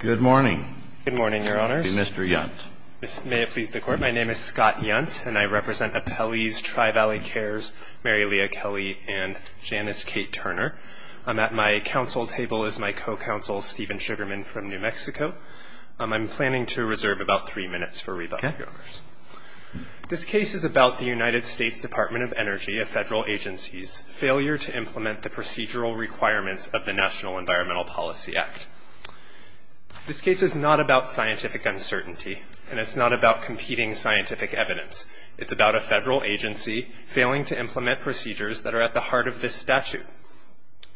Good morning. Good morning, Your Honors. Mr. Yunt. May it please the Court. My name is Scott Yunt, and I represent Appellees Tri-Valley Cares, Mary Leah Kelly, and Janice Kate Turner. At my counsel table is my co-counsel, Steven Sugarman, from New Mexico. I'm planning to reserve about three minutes for rebuttal, Your Honors. This case is about the United States Department of Energy, a federal agency's failure to implement the procedural requirements of the National Environmental Policy Act. This case is not about scientific uncertainty, and it's not about competing scientific evidence. It's about a federal agency failing to implement procedures that are at the heart of this statute,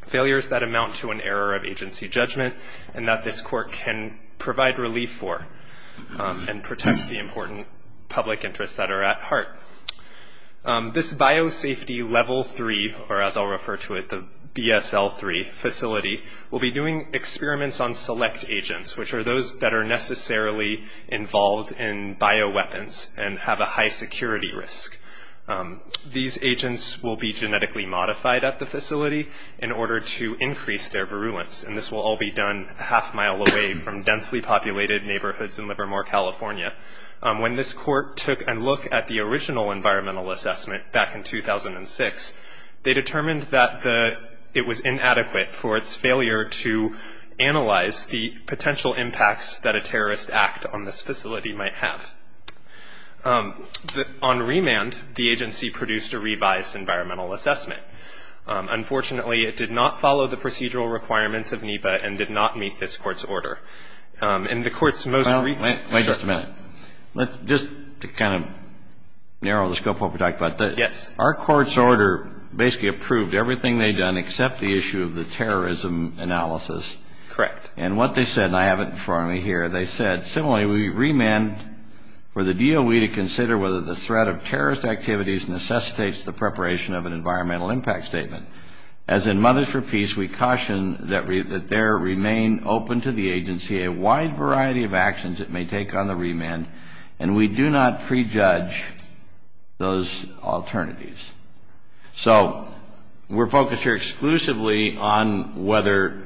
failures that amount to an error of agency judgment and that this Court can provide relief for and protect the important public interests that are at heart. This Biosafety Level 3, or as I'll refer to it, the BSL-3 facility, will be doing experiments on select agents, which are those that are necessarily involved in bioweapons and have a high security risk. These agents will be genetically modified at the facility in order to increase their virulence, and this will all be done a half-mile away from densely populated neighborhoods in Livermore, California. When this Court took a look at the original environmental assessment back in 2006, they determined that it was inadequate for its failure to analyze the potential impacts that a terrorist act on this facility might have. On remand, the agency produced a revised environmental assessment. Unfortunately, it did not follow the procedural requirements of NEPA and did not meet this Court's order. In the Court's most recent – Well, wait just a minute. Just to kind of narrow the scope of what we're talking about. Yes. Our Court's order basically approved everything they'd done except the issue of the terrorism analysis. Correct. And what they said, and I have it in front of me here, they said, similarly, we remand for the DOE to consider whether the threat of terrorist activities necessitates the preparation of an environmental impact statement. As in Mothers for Peace, we caution that there remain open to the agency a wide variety of actions it may take on the remand, and we do not prejudge those alternatives. So we're focused here exclusively on whether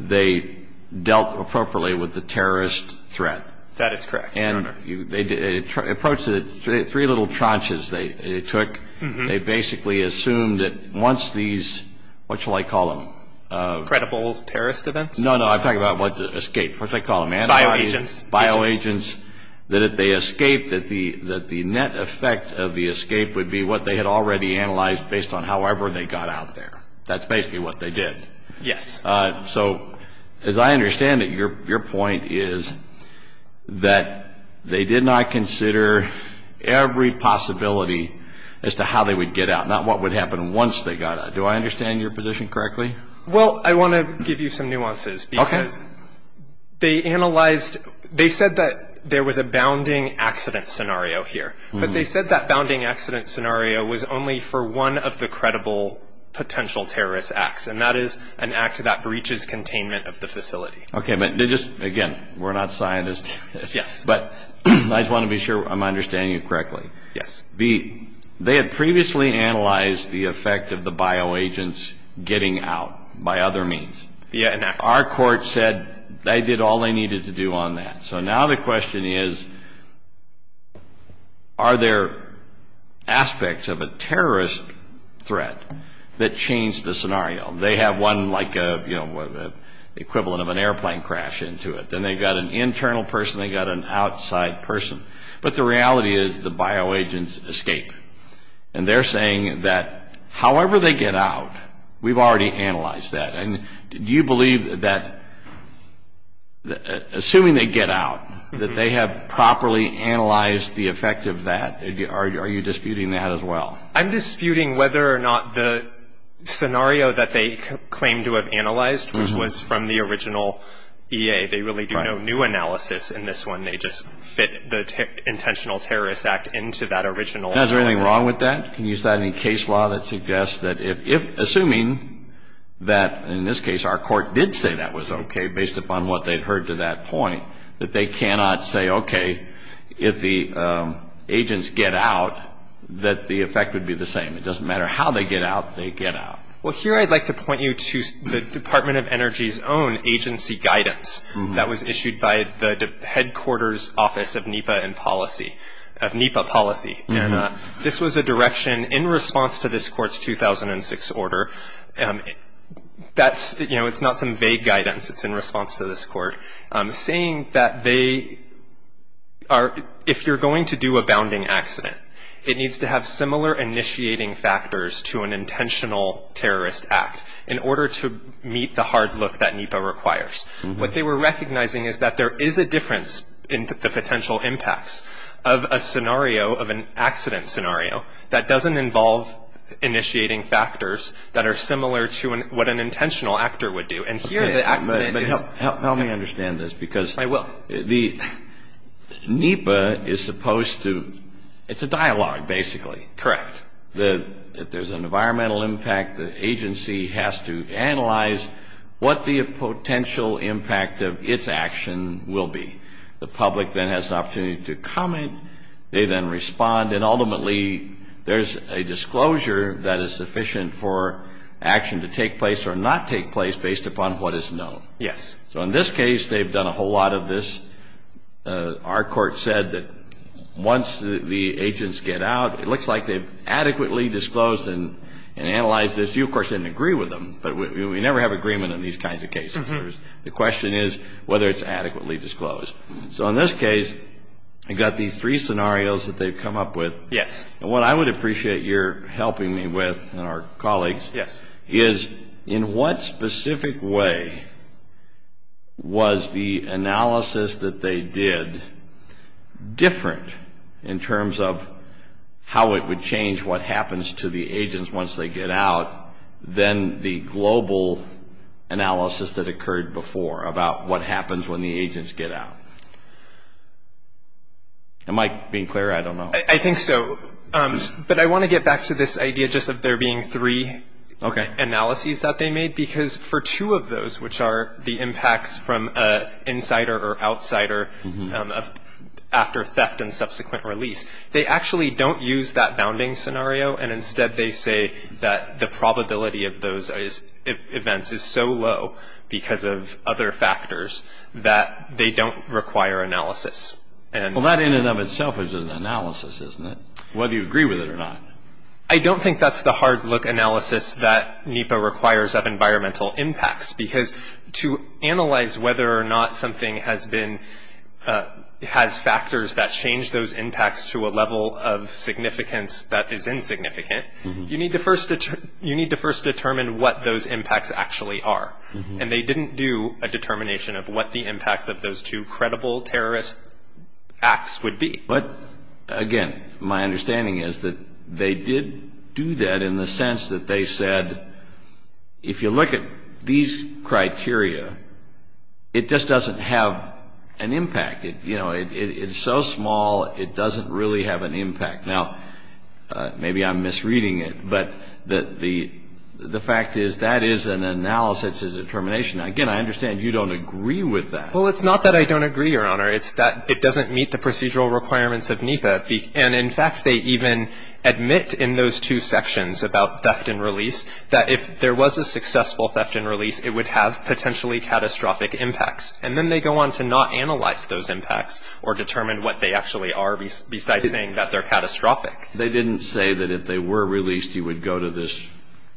they dealt appropriately with the terrorist threat. That is correct, Your Honor. And they approached it, three little tranches they took. They basically assumed that once these – what shall I call them? Credible terrorist events? No, no. I'm talking about escape. What shall I call them? Bioagents. Bioagents. That if they escaped, that the net effect of the escape would be what they had already analyzed based on however they got out there. That's basically what they did. Yes. So as I understand it, your point is that they did not consider every possibility as to how they would get out, not what would happen once they got out. Do I understand your position correctly? Well, I want to give you some nuances. Okay. Because they analyzed – they said that there was a bounding accident scenario here, but they said that bounding accident scenario was only for one of the credible potential terrorist acts, and that is an act that breaches containment of the facility. Okay. But just, again, we're not scientists. Yes. But I just want to be sure I'm understanding you correctly. Yes. They had previously analyzed the effect of the bioagents getting out by other means. Yeah, and that's – Our court said they did all they needed to do on that. So now the question is, are there aspects of a terrorist threat that changed the scenario? They have one like the equivalent of an airplane crash into it. Then they've got an internal person, they've got an outside person. But the reality is the bioagents escape. And they're saying that however they get out, we've already analyzed that. And do you believe that – assuming they get out, that they have properly analyzed the effect of that, are you disputing that as well? I'm disputing whether or not the scenario that they claim to have analyzed, which was from the original EA, they really do no new analysis in this one. They just fit the intentional terrorist act into that original analysis. Now, is there anything wrong with that? Can you cite any case law that suggests that if – assuming that, in this case, our court did say that was okay based upon what they'd heard to that point, that they cannot say, okay, if the agents get out, that the effect would be the same. It doesn't matter how they get out. They get out. Well, here I'd like to point you to the Department of Energy's own agency guidance that was issued by the headquarters office of NEPA and policy – of NEPA policy. And this was a direction in response to this court's 2006 order. That's – you know, it's not some vague guidance. It's in response to this court saying that they are – if you're going to do a bounding accident, it needs to have similar initiating factors to an intentional terrorist act in order to meet the hard look that NEPA requires. What they were recognizing is that there is a difference in the potential impacts of a scenario, of an accident scenario, that doesn't involve initiating factors that are similar to what an intentional actor would do. And here the accident is – But help me understand this because – I will. The – NEPA is supposed to – it's a dialogue, basically. Correct. If there's an environmental impact, the agency has to analyze what the potential impact of its action will be. The public then has the opportunity to comment. They then respond. And ultimately, there's a disclosure that is sufficient for action to take place or not take place based upon what is known. Yes. So in this case, they've done a whole lot of this. Our court said that once the agents get out, it looks like they've adequately disclosed and analyzed this. You, of course, didn't agree with them, but we never have agreement in these kinds of cases. The question is whether it's adequately disclosed. So in this case, I've got these three scenarios that they've come up with. Yes. And what I would appreciate your helping me with and our colleagues – Yes. – is in what specific way was the analysis that they did different in terms of how it would change what happens to the agents once they get out than the global analysis that occurred before about what happens when the agents get out? Am I being clear? I don't know. I think so. But I want to get back to this idea just of there being three. Okay. Analyses that they made because for two of those, which are the impacts from insider or outsider after theft and subsequent release, they actually don't use that bounding scenario, and instead they say that the probability of those events is so low because of other factors that they don't require analysis. Well, that in and of itself is an analysis, isn't it, whether you agree with it or not? I don't think that's the hard-look analysis that NEPA requires of environmental impacts because to analyze whether or not something has factors that change those impacts to a level of significance that is insignificant, you need to first determine what those impacts actually are. And they didn't do a determination of what the impacts of those two credible terrorist acts would be. But, again, my understanding is that they did do that in the sense that they said, if you look at these criteria, it just doesn't have an impact. You know, it's so small, it doesn't really have an impact. Now, maybe I'm misreading it, but the fact is that is an analysis, it's a determination. Again, I understand you don't agree with that. Well, it's not that I don't agree, Your Honor. It's that it doesn't meet the procedural requirements of NEPA. And, in fact, they even admit in those two sections about theft and release that if there was a successful theft and release, it would have potentially catastrophic impacts. And then they go on to not analyze those impacts or determine what they actually are besides saying that they're catastrophic. They didn't say that if they were released, you would go to this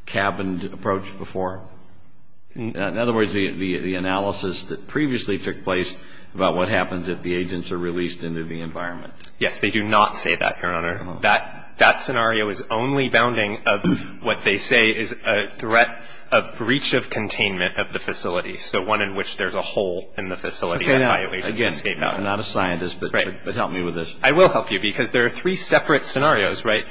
cabined approach before. In other words, the analysis that previously took place about what happens if the agents are released into the environment. Yes. They do not say that, Your Honor. That scenario is only bounding of what they say is a threat of breach of containment of the facility, so one in which there's a hole in the facility. Again, I'm not a scientist, but help me with this. I will help you because there are three separate scenarios, right,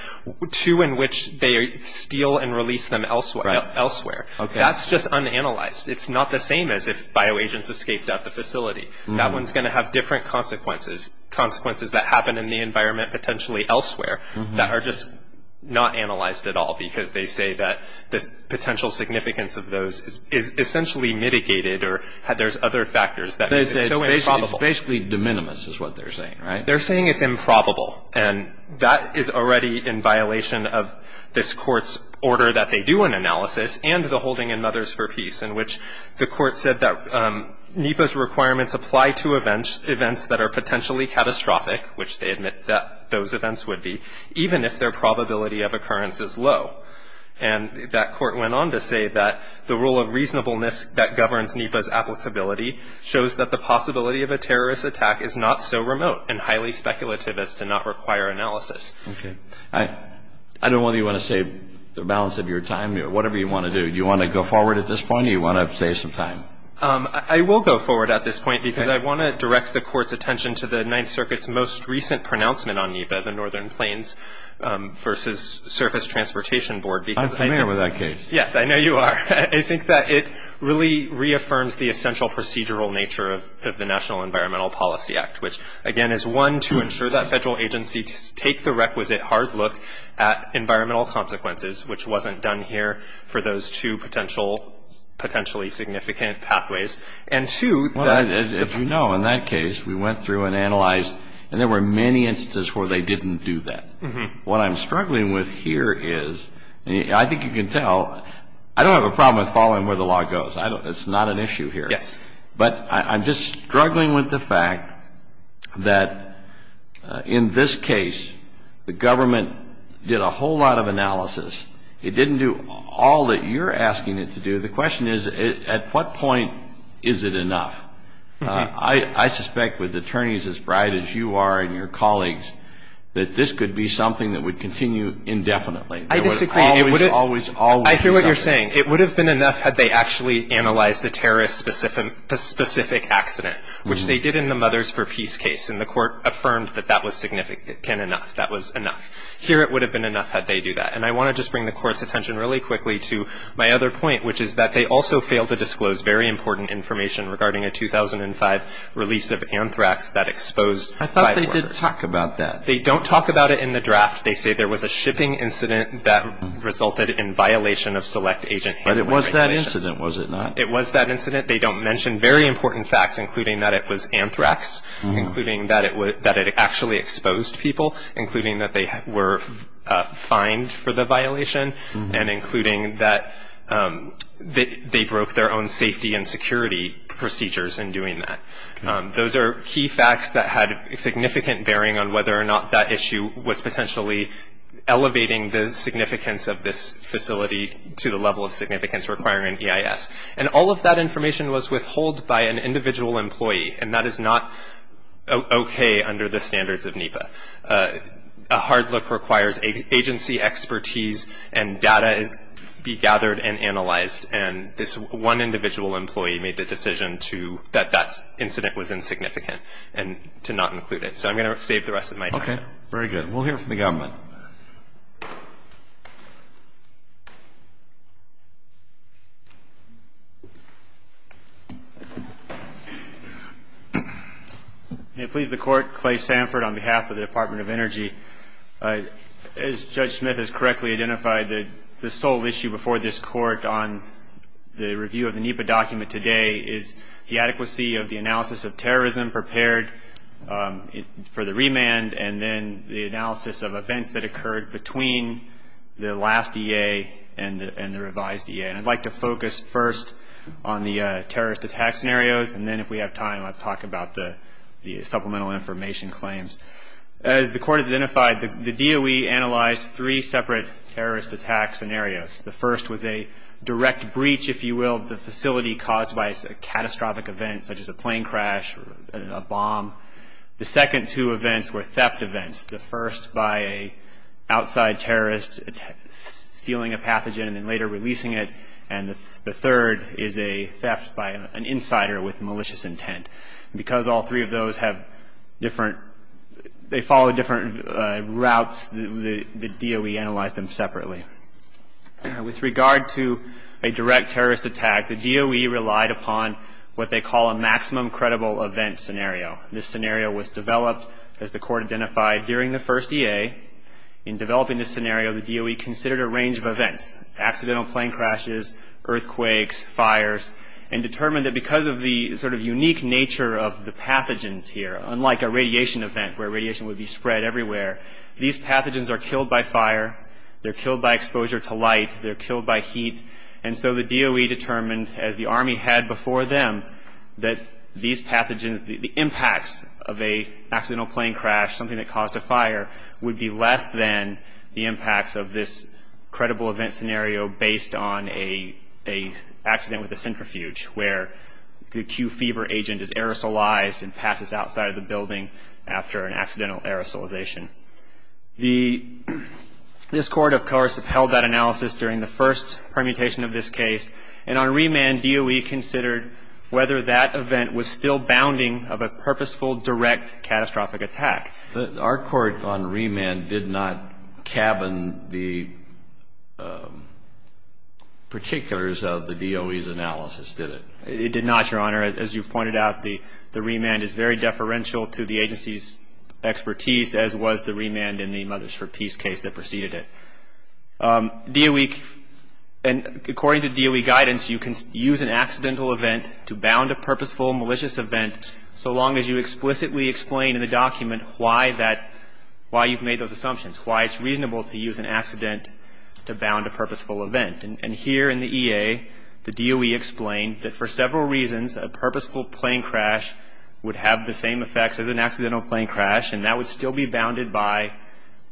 two in which they steal and release them elsewhere. Okay. That's just unanalyzed. It's not the same as if bio agents escaped at the facility. That one's going to have different consequences, consequences that happen in the environment potentially elsewhere that are just not analyzed at all because they say that this potential significance of those is essentially mitigated or there's other factors that make it so improbable. It's basically de minimis is what they're saying, right? They're saying it's improbable. And that is already in violation of this court's order that they do an analysis and the holding in Mothers for Peace in which the court said that NEPA's requirements apply to events that are potentially catastrophic, which they admit that those events would be, even if their probability of occurrence is low. And that court went on to say that the rule of reasonableness that governs NEPA's applicability shows that the possibility of a terrorist attack is not so remote and highly speculative as to not require analysis. Okay. I don't know whether you want to save the balance of your time or whatever you want to do. Do you want to go forward at this point or do you want to save some time? I will go forward at this point because I want to direct the court's attention to the Ninth Circuit's most recent pronouncement on NEPA, the Northern Plains versus Surface Transportation Board. I'm familiar with that case. Yes, I know you are. I think that it really reaffirms the essential procedural nature of the National Environmental Policy Act, which, again, is, one, to ensure that federal agencies take the requisite hard look at environmental consequences, which wasn't done here for those two potentially significant pathways. And, two, if you know, in that case, we went through and analyzed and there were many instances where they didn't do that. What I'm struggling with here is, I think you can tell, I don't have a problem with following where the law goes. It's not an issue here. Yes. But I'm just struggling with the fact that, in this case, the government did a whole lot of analysis. It didn't do all that you're asking it to do. The question is, at what point is it enough? I suspect, with attorneys as bright as you are and your colleagues, that this could be something that would continue indefinitely. I disagree. It would always, always be enough. I hear what you're saying. It would have been enough had they actually analyzed a terrorist-specific accident, which they did in the Mothers for Peace case, and the Court affirmed that that was significant enough. That was enough. Here, it would have been enough had they do that. And I want to just bring the Court's attention really quickly to my other point, which is that they also fail to disclose very important information regarding a 2005 release of anthrax that exposed five workers. I thought they didn't talk about that. They don't talk about it in the draft. They say there was a shipping incident that resulted in violation of select agent handling regulations. But it was that incident, was it not? It was that incident. They don't mention very important facts, including that it was anthrax, including that it actually exposed people, including that they were fined for the violation, and including that they broke their own safety and security procedures in doing that. Those are key facts that had significant bearing on whether or not that issue was potentially elevating the significance of this facility to the level of significance requiring an EIS. And all of that information was withheld by an individual employee, and that is not okay under the standards of NEPA. A hard look requires agency expertise and data be gathered and analyzed, and this one individual employee made the decision that that incident was insignificant and to not include it. So I'm going to save the rest of my time. Okay. Very good. We'll hear from the government. Thank you. May it please the Court, Clay Sanford on behalf of the Department of Energy. As Judge Smith has correctly identified, the sole issue before this Court on the review of the NEPA document today is the adequacy of the analysis of terrorism prepared for the remand, and then the analysis of events that occurred between the last EA and the revised EA. And I'd like to focus first on the terrorist attack scenarios, and then if we have time I'll talk about the supplemental information claims. As the Court has identified, the DOE analyzed three separate terrorist attack scenarios. The first was a direct breach, if you will, of the facility caused by a catastrophic event, such as a plane crash or a bomb. The second two events were theft events. The first by an outside terrorist stealing a pathogen and then later releasing it, and the third is a theft by an insider with malicious intent. Because all three of those have different – they follow different routes, the DOE analyzed them separately. With regard to a direct terrorist attack, the DOE relied upon what they call a maximum credible event scenario. This scenario was developed, as the Court identified, during the first EA. In developing this scenario, the DOE considered a range of events, accidental plane crashes, earthquakes, fires, and determined that because of the sort of unique nature of the pathogens here, unlike a radiation event where radiation would be spread everywhere, these pathogens are killed by fire, they're killed by exposure to light, they're killed by heat. And so the DOE determined, as the Army had before them, that these pathogens, the impacts of an accidental plane crash, something that caused a fire, would be less than the impacts of this credible event scenario based on an accident with a centrifuge where the Q fever agent is aerosolized and passes outside of the building after an accidental aerosolization. The – this Court, of course, upheld that analysis during the first permutation of this case, and on remand, DOE considered whether that event was still bounding of a purposeful direct catastrophic attack. Our court on remand did not cabin the particulars of the DOE's analysis, did it? It did not, Your Honor. As you've pointed out, the remand is very deferential to the agency's expertise, as was the remand in the Mothers for Peace case that preceded it. DOE – and according to DOE guidance, you can use an accidental event to bound a purposeful malicious event so long as you explicitly explain in the document why that – why you've made those assumptions, why it's reasonable to use an accident to bound a purposeful event. And here in the EA, the DOE explained that for several reasons, a purposeful plane crash would have the same effects as an accidental plane crash, and that would still be bounded by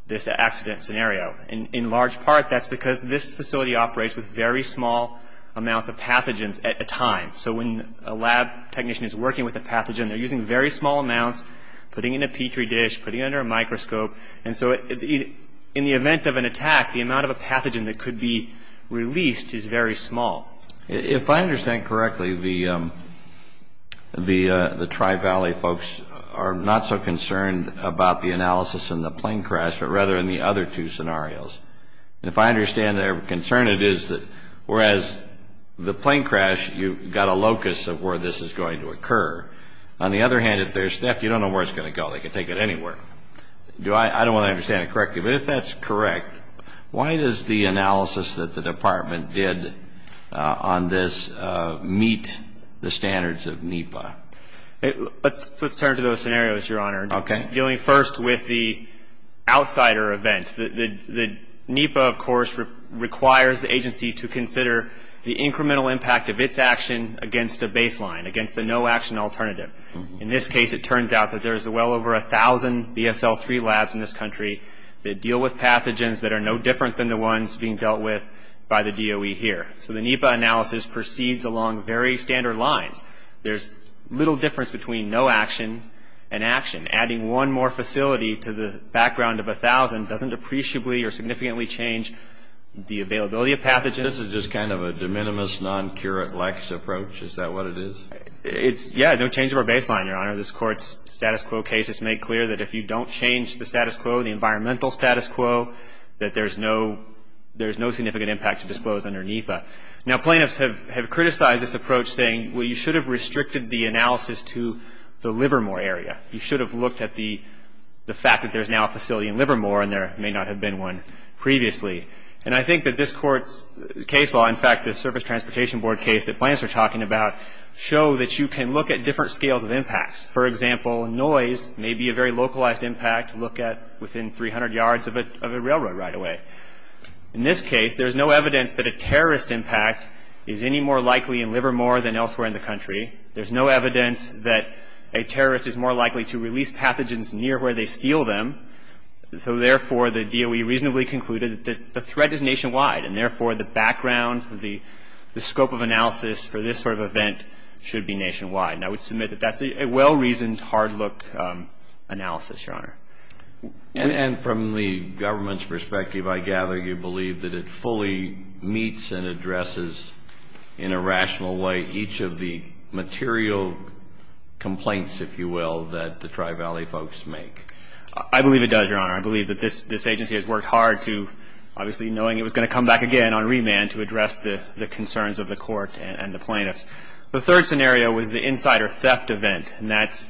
this accident scenario. In large part, that's because this facility operates with very small amounts of pathogens at a time. So when a lab technician is working with a pathogen, they're using very small amounts, putting it in a Petri dish, putting it under a microscope. And so in the event of an attack, the amount of a pathogen that could be released is very small. If I understand correctly, the Tri-Valley folks are not so concerned about the analysis in the plane crash, but rather in the other two scenarios. And if I understand their concern, it is that whereas the plane crash, you've got a locus of where this is going to occur. On the other hand, if there's theft, you don't know where it's going to go. They could take it anywhere. I don't want to understand it correctly, but if that's correct, why does the analysis that the Department did on this meet the standards of NEPA? Let's turn to those scenarios, Your Honor. Okay. Dealing first with the outsider event, the NEPA, of course, requires the agency to consider the incremental impact of its action against a baseline, against the no-action alternative. In this case, it turns out that there's well over 1,000 BSL-3 labs in this country that deal with pathogens that are no different than the ones being dealt with by the DOE here. So the NEPA analysis proceeds along very standard lines. There's little difference between no action and action. Adding one more facility to the background of 1,000 doesn't appreciably or significantly change the availability of pathogens. This is just kind of a de minimis, non-curate lex approach. Is that what it is? Yeah, no change of our baseline, Your Honor. This Court's status quo cases make clear that if you don't change the status quo, the environmental status quo, that there's no significant impact to disclose under NEPA. Now, plaintiffs have criticized this approach, saying, well, you should have restricted the analysis to the Livermore area. You should have looked at the fact that there's now a facility in Livermore and there may not have been one previously. And I think that this Court's case law, in fact, the Surface Transportation Board case that plaintiffs are talking about, show that you can look at different scales of impacts. For example, noise may be a very localized impact. Look at within 300 yards of a railroad right away. In this case, there's no evidence that a terrorist impact is any more likely in Livermore than elsewhere in the country. There's no evidence that a terrorist is more likely to release pathogens near where they steal them. So therefore, the DOE reasonably concluded that the threat is nationwide, and therefore the background, the scope of analysis for this sort of event should be nationwide. And I would submit that that's a well-reasoned, hard-look analysis, Your Honor. And from the government's perspective, I gather you believe that it fully meets and addresses in a rational way each of the material complaints, if you will, that the Tri-Valley folks make. I believe it does, Your Honor. I believe that this agency has worked hard to, obviously, knowing it was going to come back again on remand, to address the concerns of the Court and the plaintiffs. The third scenario was the insider theft event, and that's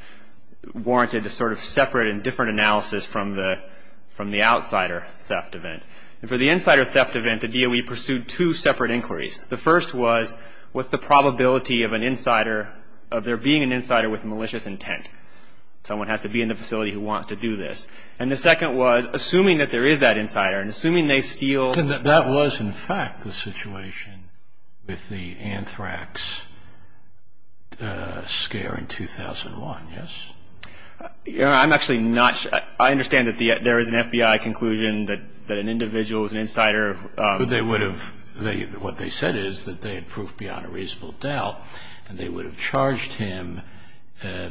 warranted a sort of separate and different analysis from the outsider theft event. And for the insider theft event, the DOE pursued two separate inquiries. The first was, what's the probability of an insider, of there being an insider with malicious intent? Someone has to be in the facility who wants to do this. And the second was, assuming that there is that insider and assuming they steal. And that was, in fact, the situation with the anthrax scare in 2001, yes? Your Honor, I'm actually not sure. I understand that there is an FBI conclusion that an individual was an insider. But they would have, what they said is that they had proved beyond a reasonable doubt and they would have charged him,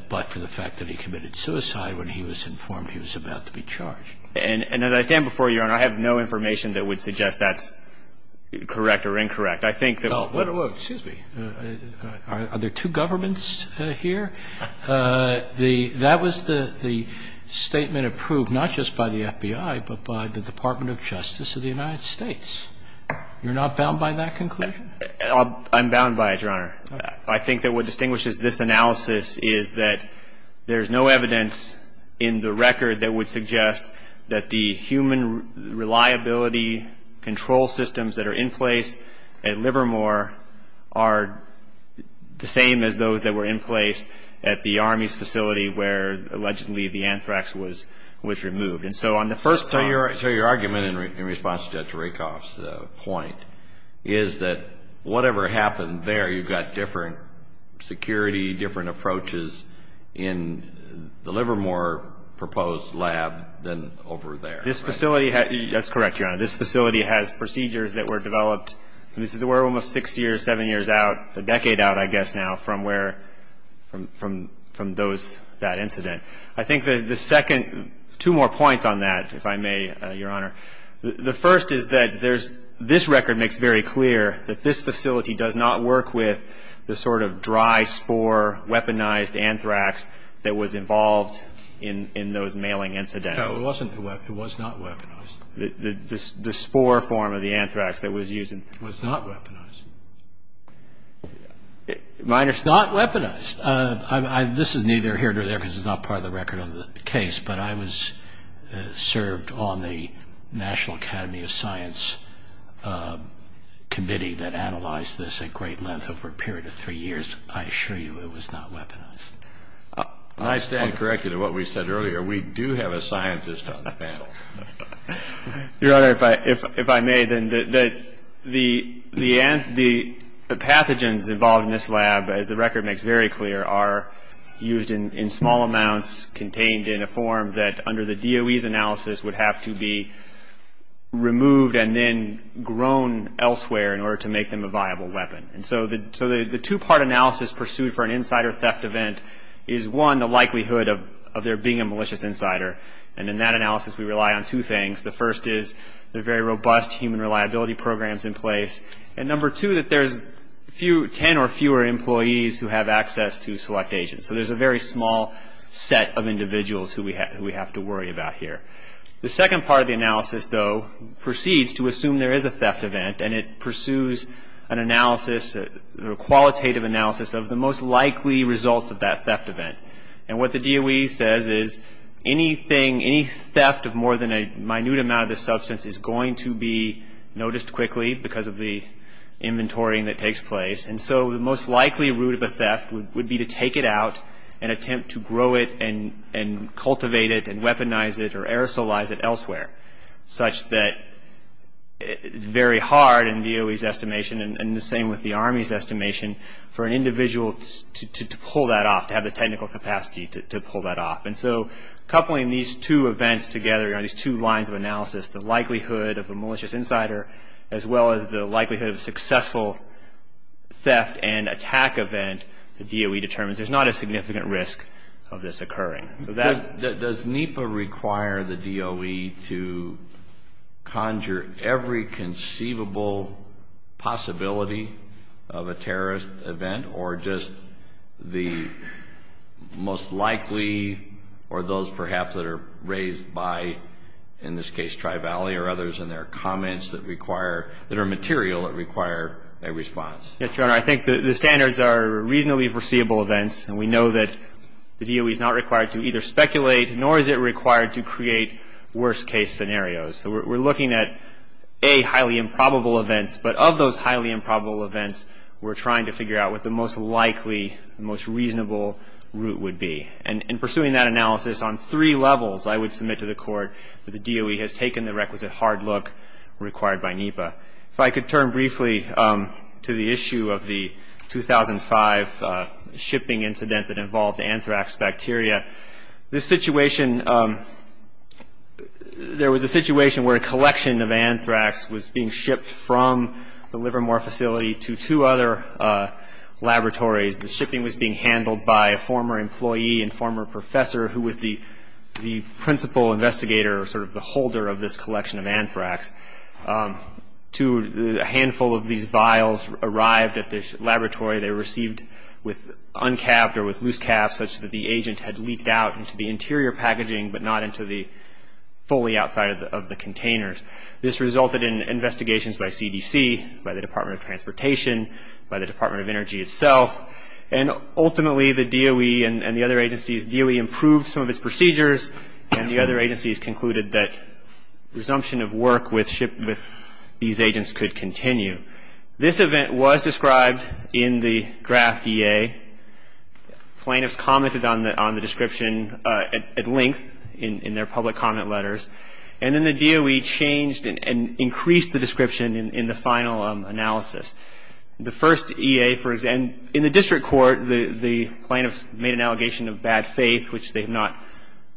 but for the fact that he committed suicide, when he was informed he was about to be charged. And as I stand before you, Your Honor, I have no information that would suggest that's correct or incorrect. I think that... Well, excuse me. Are there two governments here? That was the statement approved not just by the FBI, but by the Department of Justice of the United States. You're not bound by that conclusion? I'm bound by it, Your Honor. I think that what distinguishes this analysis is that there's no evidence in the record that would suggest that the human reliability control systems that are in place at Livermore are the same as those that were in place at the Army's facility where, allegedly, the anthrax was removed. And so on the first point... So your argument in response to Judge Rakoff's point is that whatever happened there, you've got different security, different approaches in the Livermore proposed lab than over there. This facility has... That's correct, Your Honor. This facility has procedures that were developed, and this is where almost six years, seven years out, a decade out, I guess now, from where, from those, that incident. I think the second, two more points on that, if I may, Your Honor. The first is that there's this record makes very clear that this facility does not work with the sort of dry, spore, weaponized anthrax that was involved in those mailing incidents. No, it wasn't weaponized. It was not weaponized. The spore form of the anthrax that was used in... It was not weaponized. My understanding... It's not weaponized. This is neither here nor there because it's not part of the record of the case, but I served on the National Academy of Science committee that analyzed this at great length over a period of three years. I assure you it was not weaponized. I stand corrected in what we said earlier. We do have a scientist on the panel. Your Honor, if I may, the pathogens involved in this lab, as the record makes very clear, are used in small amounts contained in a form that, under the DOE's analysis, would have to be removed and then grown elsewhere in order to make them a viable weapon. So the two-part analysis pursued for an insider theft event is, one, the likelihood of there being a malicious insider, and in that analysis we rely on two things. The first is there are very robust human reliability programs in place, and, number two, that there's ten or fewer employees who have access to select agents. So there's a very small set of individuals who we have to worry about here. The second part of the analysis, though, proceeds to assume there is a theft event, and it pursues an analysis, a qualitative analysis, of the most likely results of that theft event. And what the DOE says is anything, any theft of more than a minute amount of the substance is going to be noticed quickly because of the inventorying that takes place. And so the most likely route of a theft would be to take it out and attempt to grow it and cultivate it and weaponize it or aerosolize it elsewhere, such that it's very hard, in DOE's estimation, and the same with the Army's estimation, for an individual to pull that off, to have the technical capacity to pull that off. And so coupling these two events together, these two lines of analysis, the likelihood of a malicious insider, as well as the likelihood of a successful theft and attack event, the DOE determines there's not a significant risk of this occurring. So that Does NEPA require the DOE to conjure every conceivable possibility of a terrorist event or just the most likely or those perhaps that are raised by, in this case, Tri-Valley or others in their comments that require, that are material that require a response? Yes, Your Honor. I think the standards are reasonably foreseeable events, and we know that the DOE is not required to either speculate nor is it required to create worst-case scenarios. So we're looking at, A, highly improbable events, but of those highly improbable events, we're trying to figure out what the most likely, the most reasonable route would be. And pursuing that analysis on three levels, I would submit to the Court that the DOE has taken the requisite hard look required by NEPA. If I could turn briefly to the issue of the 2005 shipping incident that involved anthrax bacteria. This situation, there was a situation where a collection of anthrax was being shipped from the Livermore facility to two other laboratories. The shipping was being handled by a former employee and former professor who was the principal investigator, sort of the holder of this collection of anthrax. A handful of these vials arrived at the laboratory. They were received with uncapped or with loose caps such that the agent had leaked out into the interior packaging but not into the fully outside of the containers. This resulted in investigations by CDC, by the Department of Transportation, by the Department of Energy itself, and ultimately the DOE and the other agencies, DOE improved some of its procedures and the other agencies concluded that resumption of work with these agents could continue. This event was described in the draft EA. Plaintiffs commented on the description at length in their public comment letters. And then the DOE changed and increased the description in the final analysis. The first EA, for example, in the district court, the plaintiffs made an allegation of bad faith, which they have not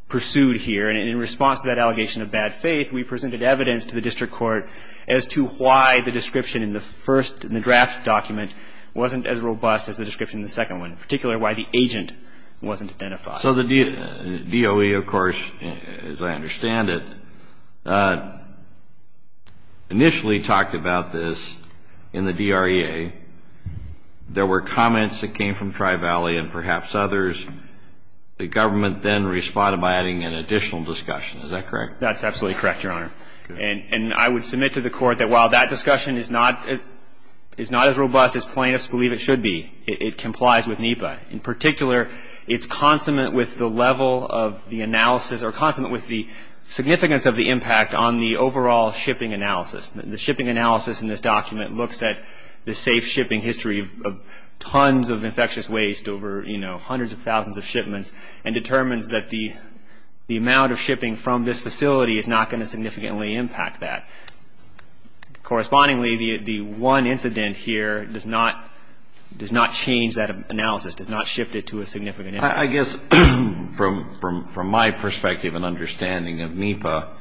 pursued here. And in response to that allegation of bad faith, we presented evidence to the district court as to why the description in the first, in the draft document, wasn't as robust as the description in the second one, particularly why the agent wasn't identified. So the DOE, of course, as I understand it, initially talked about this in the DREA. There were comments that came from Tri-Valley and perhaps others. The government then responded by adding an additional discussion. Is that correct? That's absolutely correct, Your Honor. And I would submit to the court that while that discussion is not as robust as plaintiffs believe it should be, it complies with NEPA. In particular, it's consummate with the level of the analysis or consummate with the significance of the impact on the overall shipping analysis. The shipping analysis in this document looks at the safe shipping history of tons of infectious waste over hundreds of thousands of shipments and determines that the amount of shipping from this facility is not going to significantly impact that. Correspondingly, the one incident here does not change that analysis, does not shift it to a significant impact. I guess from my perspective and understanding of NEPA,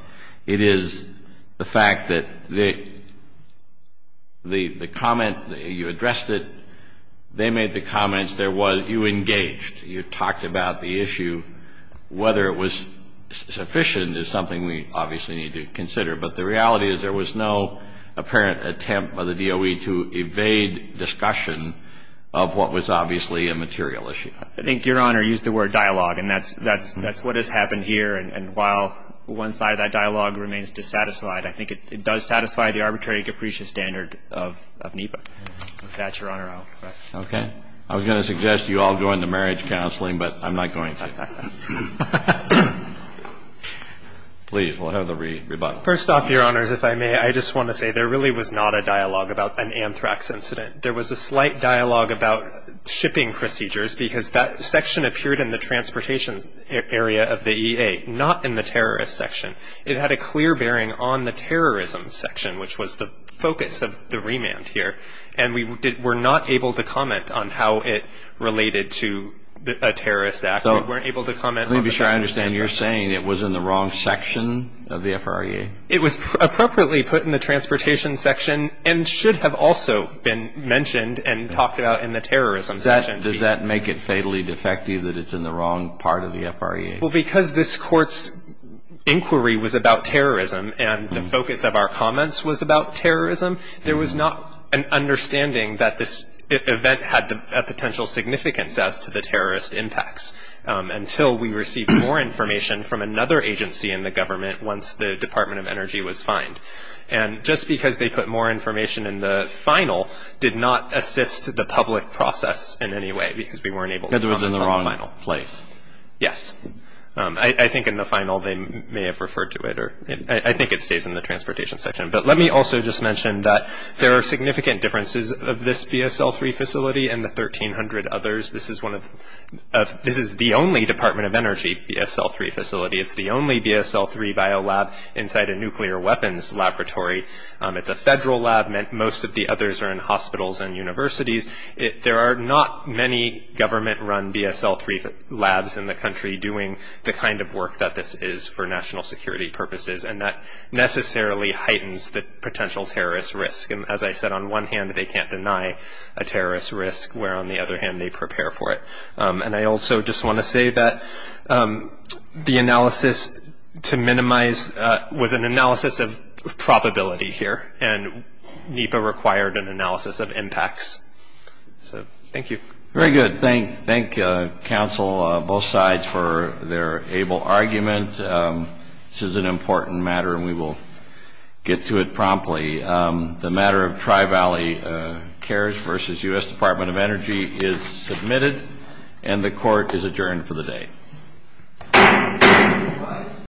it is the fact that the comment, you addressed it. They made the comments. There was you engaged. You talked about the issue. Whether it was sufficient is something we obviously need to consider. But the reality is there was no apparent attempt by the DOE to evade discussion of what was obviously a material issue. I think Your Honor used the word dialogue, and that's what has happened here. And while one side of that dialogue remains dissatisfied, I think it does satisfy the arbitrary capricious standard of NEPA. With that, Your Honor, I will confess. Okay. I was going to suggest you all go into marriage counseling, but I'm not going to. Please, we'll have the rebuttal. First off, Your Honors, if I may, I just want to say there really was not a dialogue about an anthrax incident. There was a slight dialogue about shipping procedures because that section appeared in the transportation area of the EA, not in the terrorist section. It had a clear bearing on the terrorism section, which was the focus of the remand here. And we were not able to comment on how it related to a terrorist act. We weren't able to comment on the terrorist act. Let me be sure I understand. You're saying it was in the wrong section of the FRAA? It was appropriately put in the transportation section and should have also been mentioned and talked about in the terrorism section. Does that make it fatally defective that it's in the wrong part of the FRAA? Well, because this Court's inquiry was about terrorism and the focus of our comments was about terrorism, there was not an understanding that this event had a potential significance as to the terrorist impacts until we received more information from another agency in the government once the Department of Energy was fined. And just because they put more information in the final did not assist the public process in any way because we weren't able to comment on the final. Because it was in the wrong place? Yes. I think in the final they may have referred to it. I think it stays in the transportation section. But let me also just mention that there are significant differences of this BSL-3 facility and the 1,300 others. This is the only Department of Energy BSL-3 facility. It's the only BSL-3 biolab inside a nuclear weapons laboratory. It's a federal lab. Most of the others are in hospitals and universities. There are not many government-run BSL-3 labs in the country doing the kind of work that this is for national security purposes, and that necessarily heightens the potential terrorist risk. And as I said, on one hand they can't deny a terrorist risk, where on the other hand they prepare for it. And I also just want to say that the analysis to minimize was an analysis of probability here, and NEPA required an analysis of impacts. So thank you. Very good. Thank you, counsel, both sides, for their able argument. This is an important matter, and we will get to it promptly. The matter of Tri-Valley Cares v. U.S. Department of Energy is submitted, and the Court is adjourned for the day.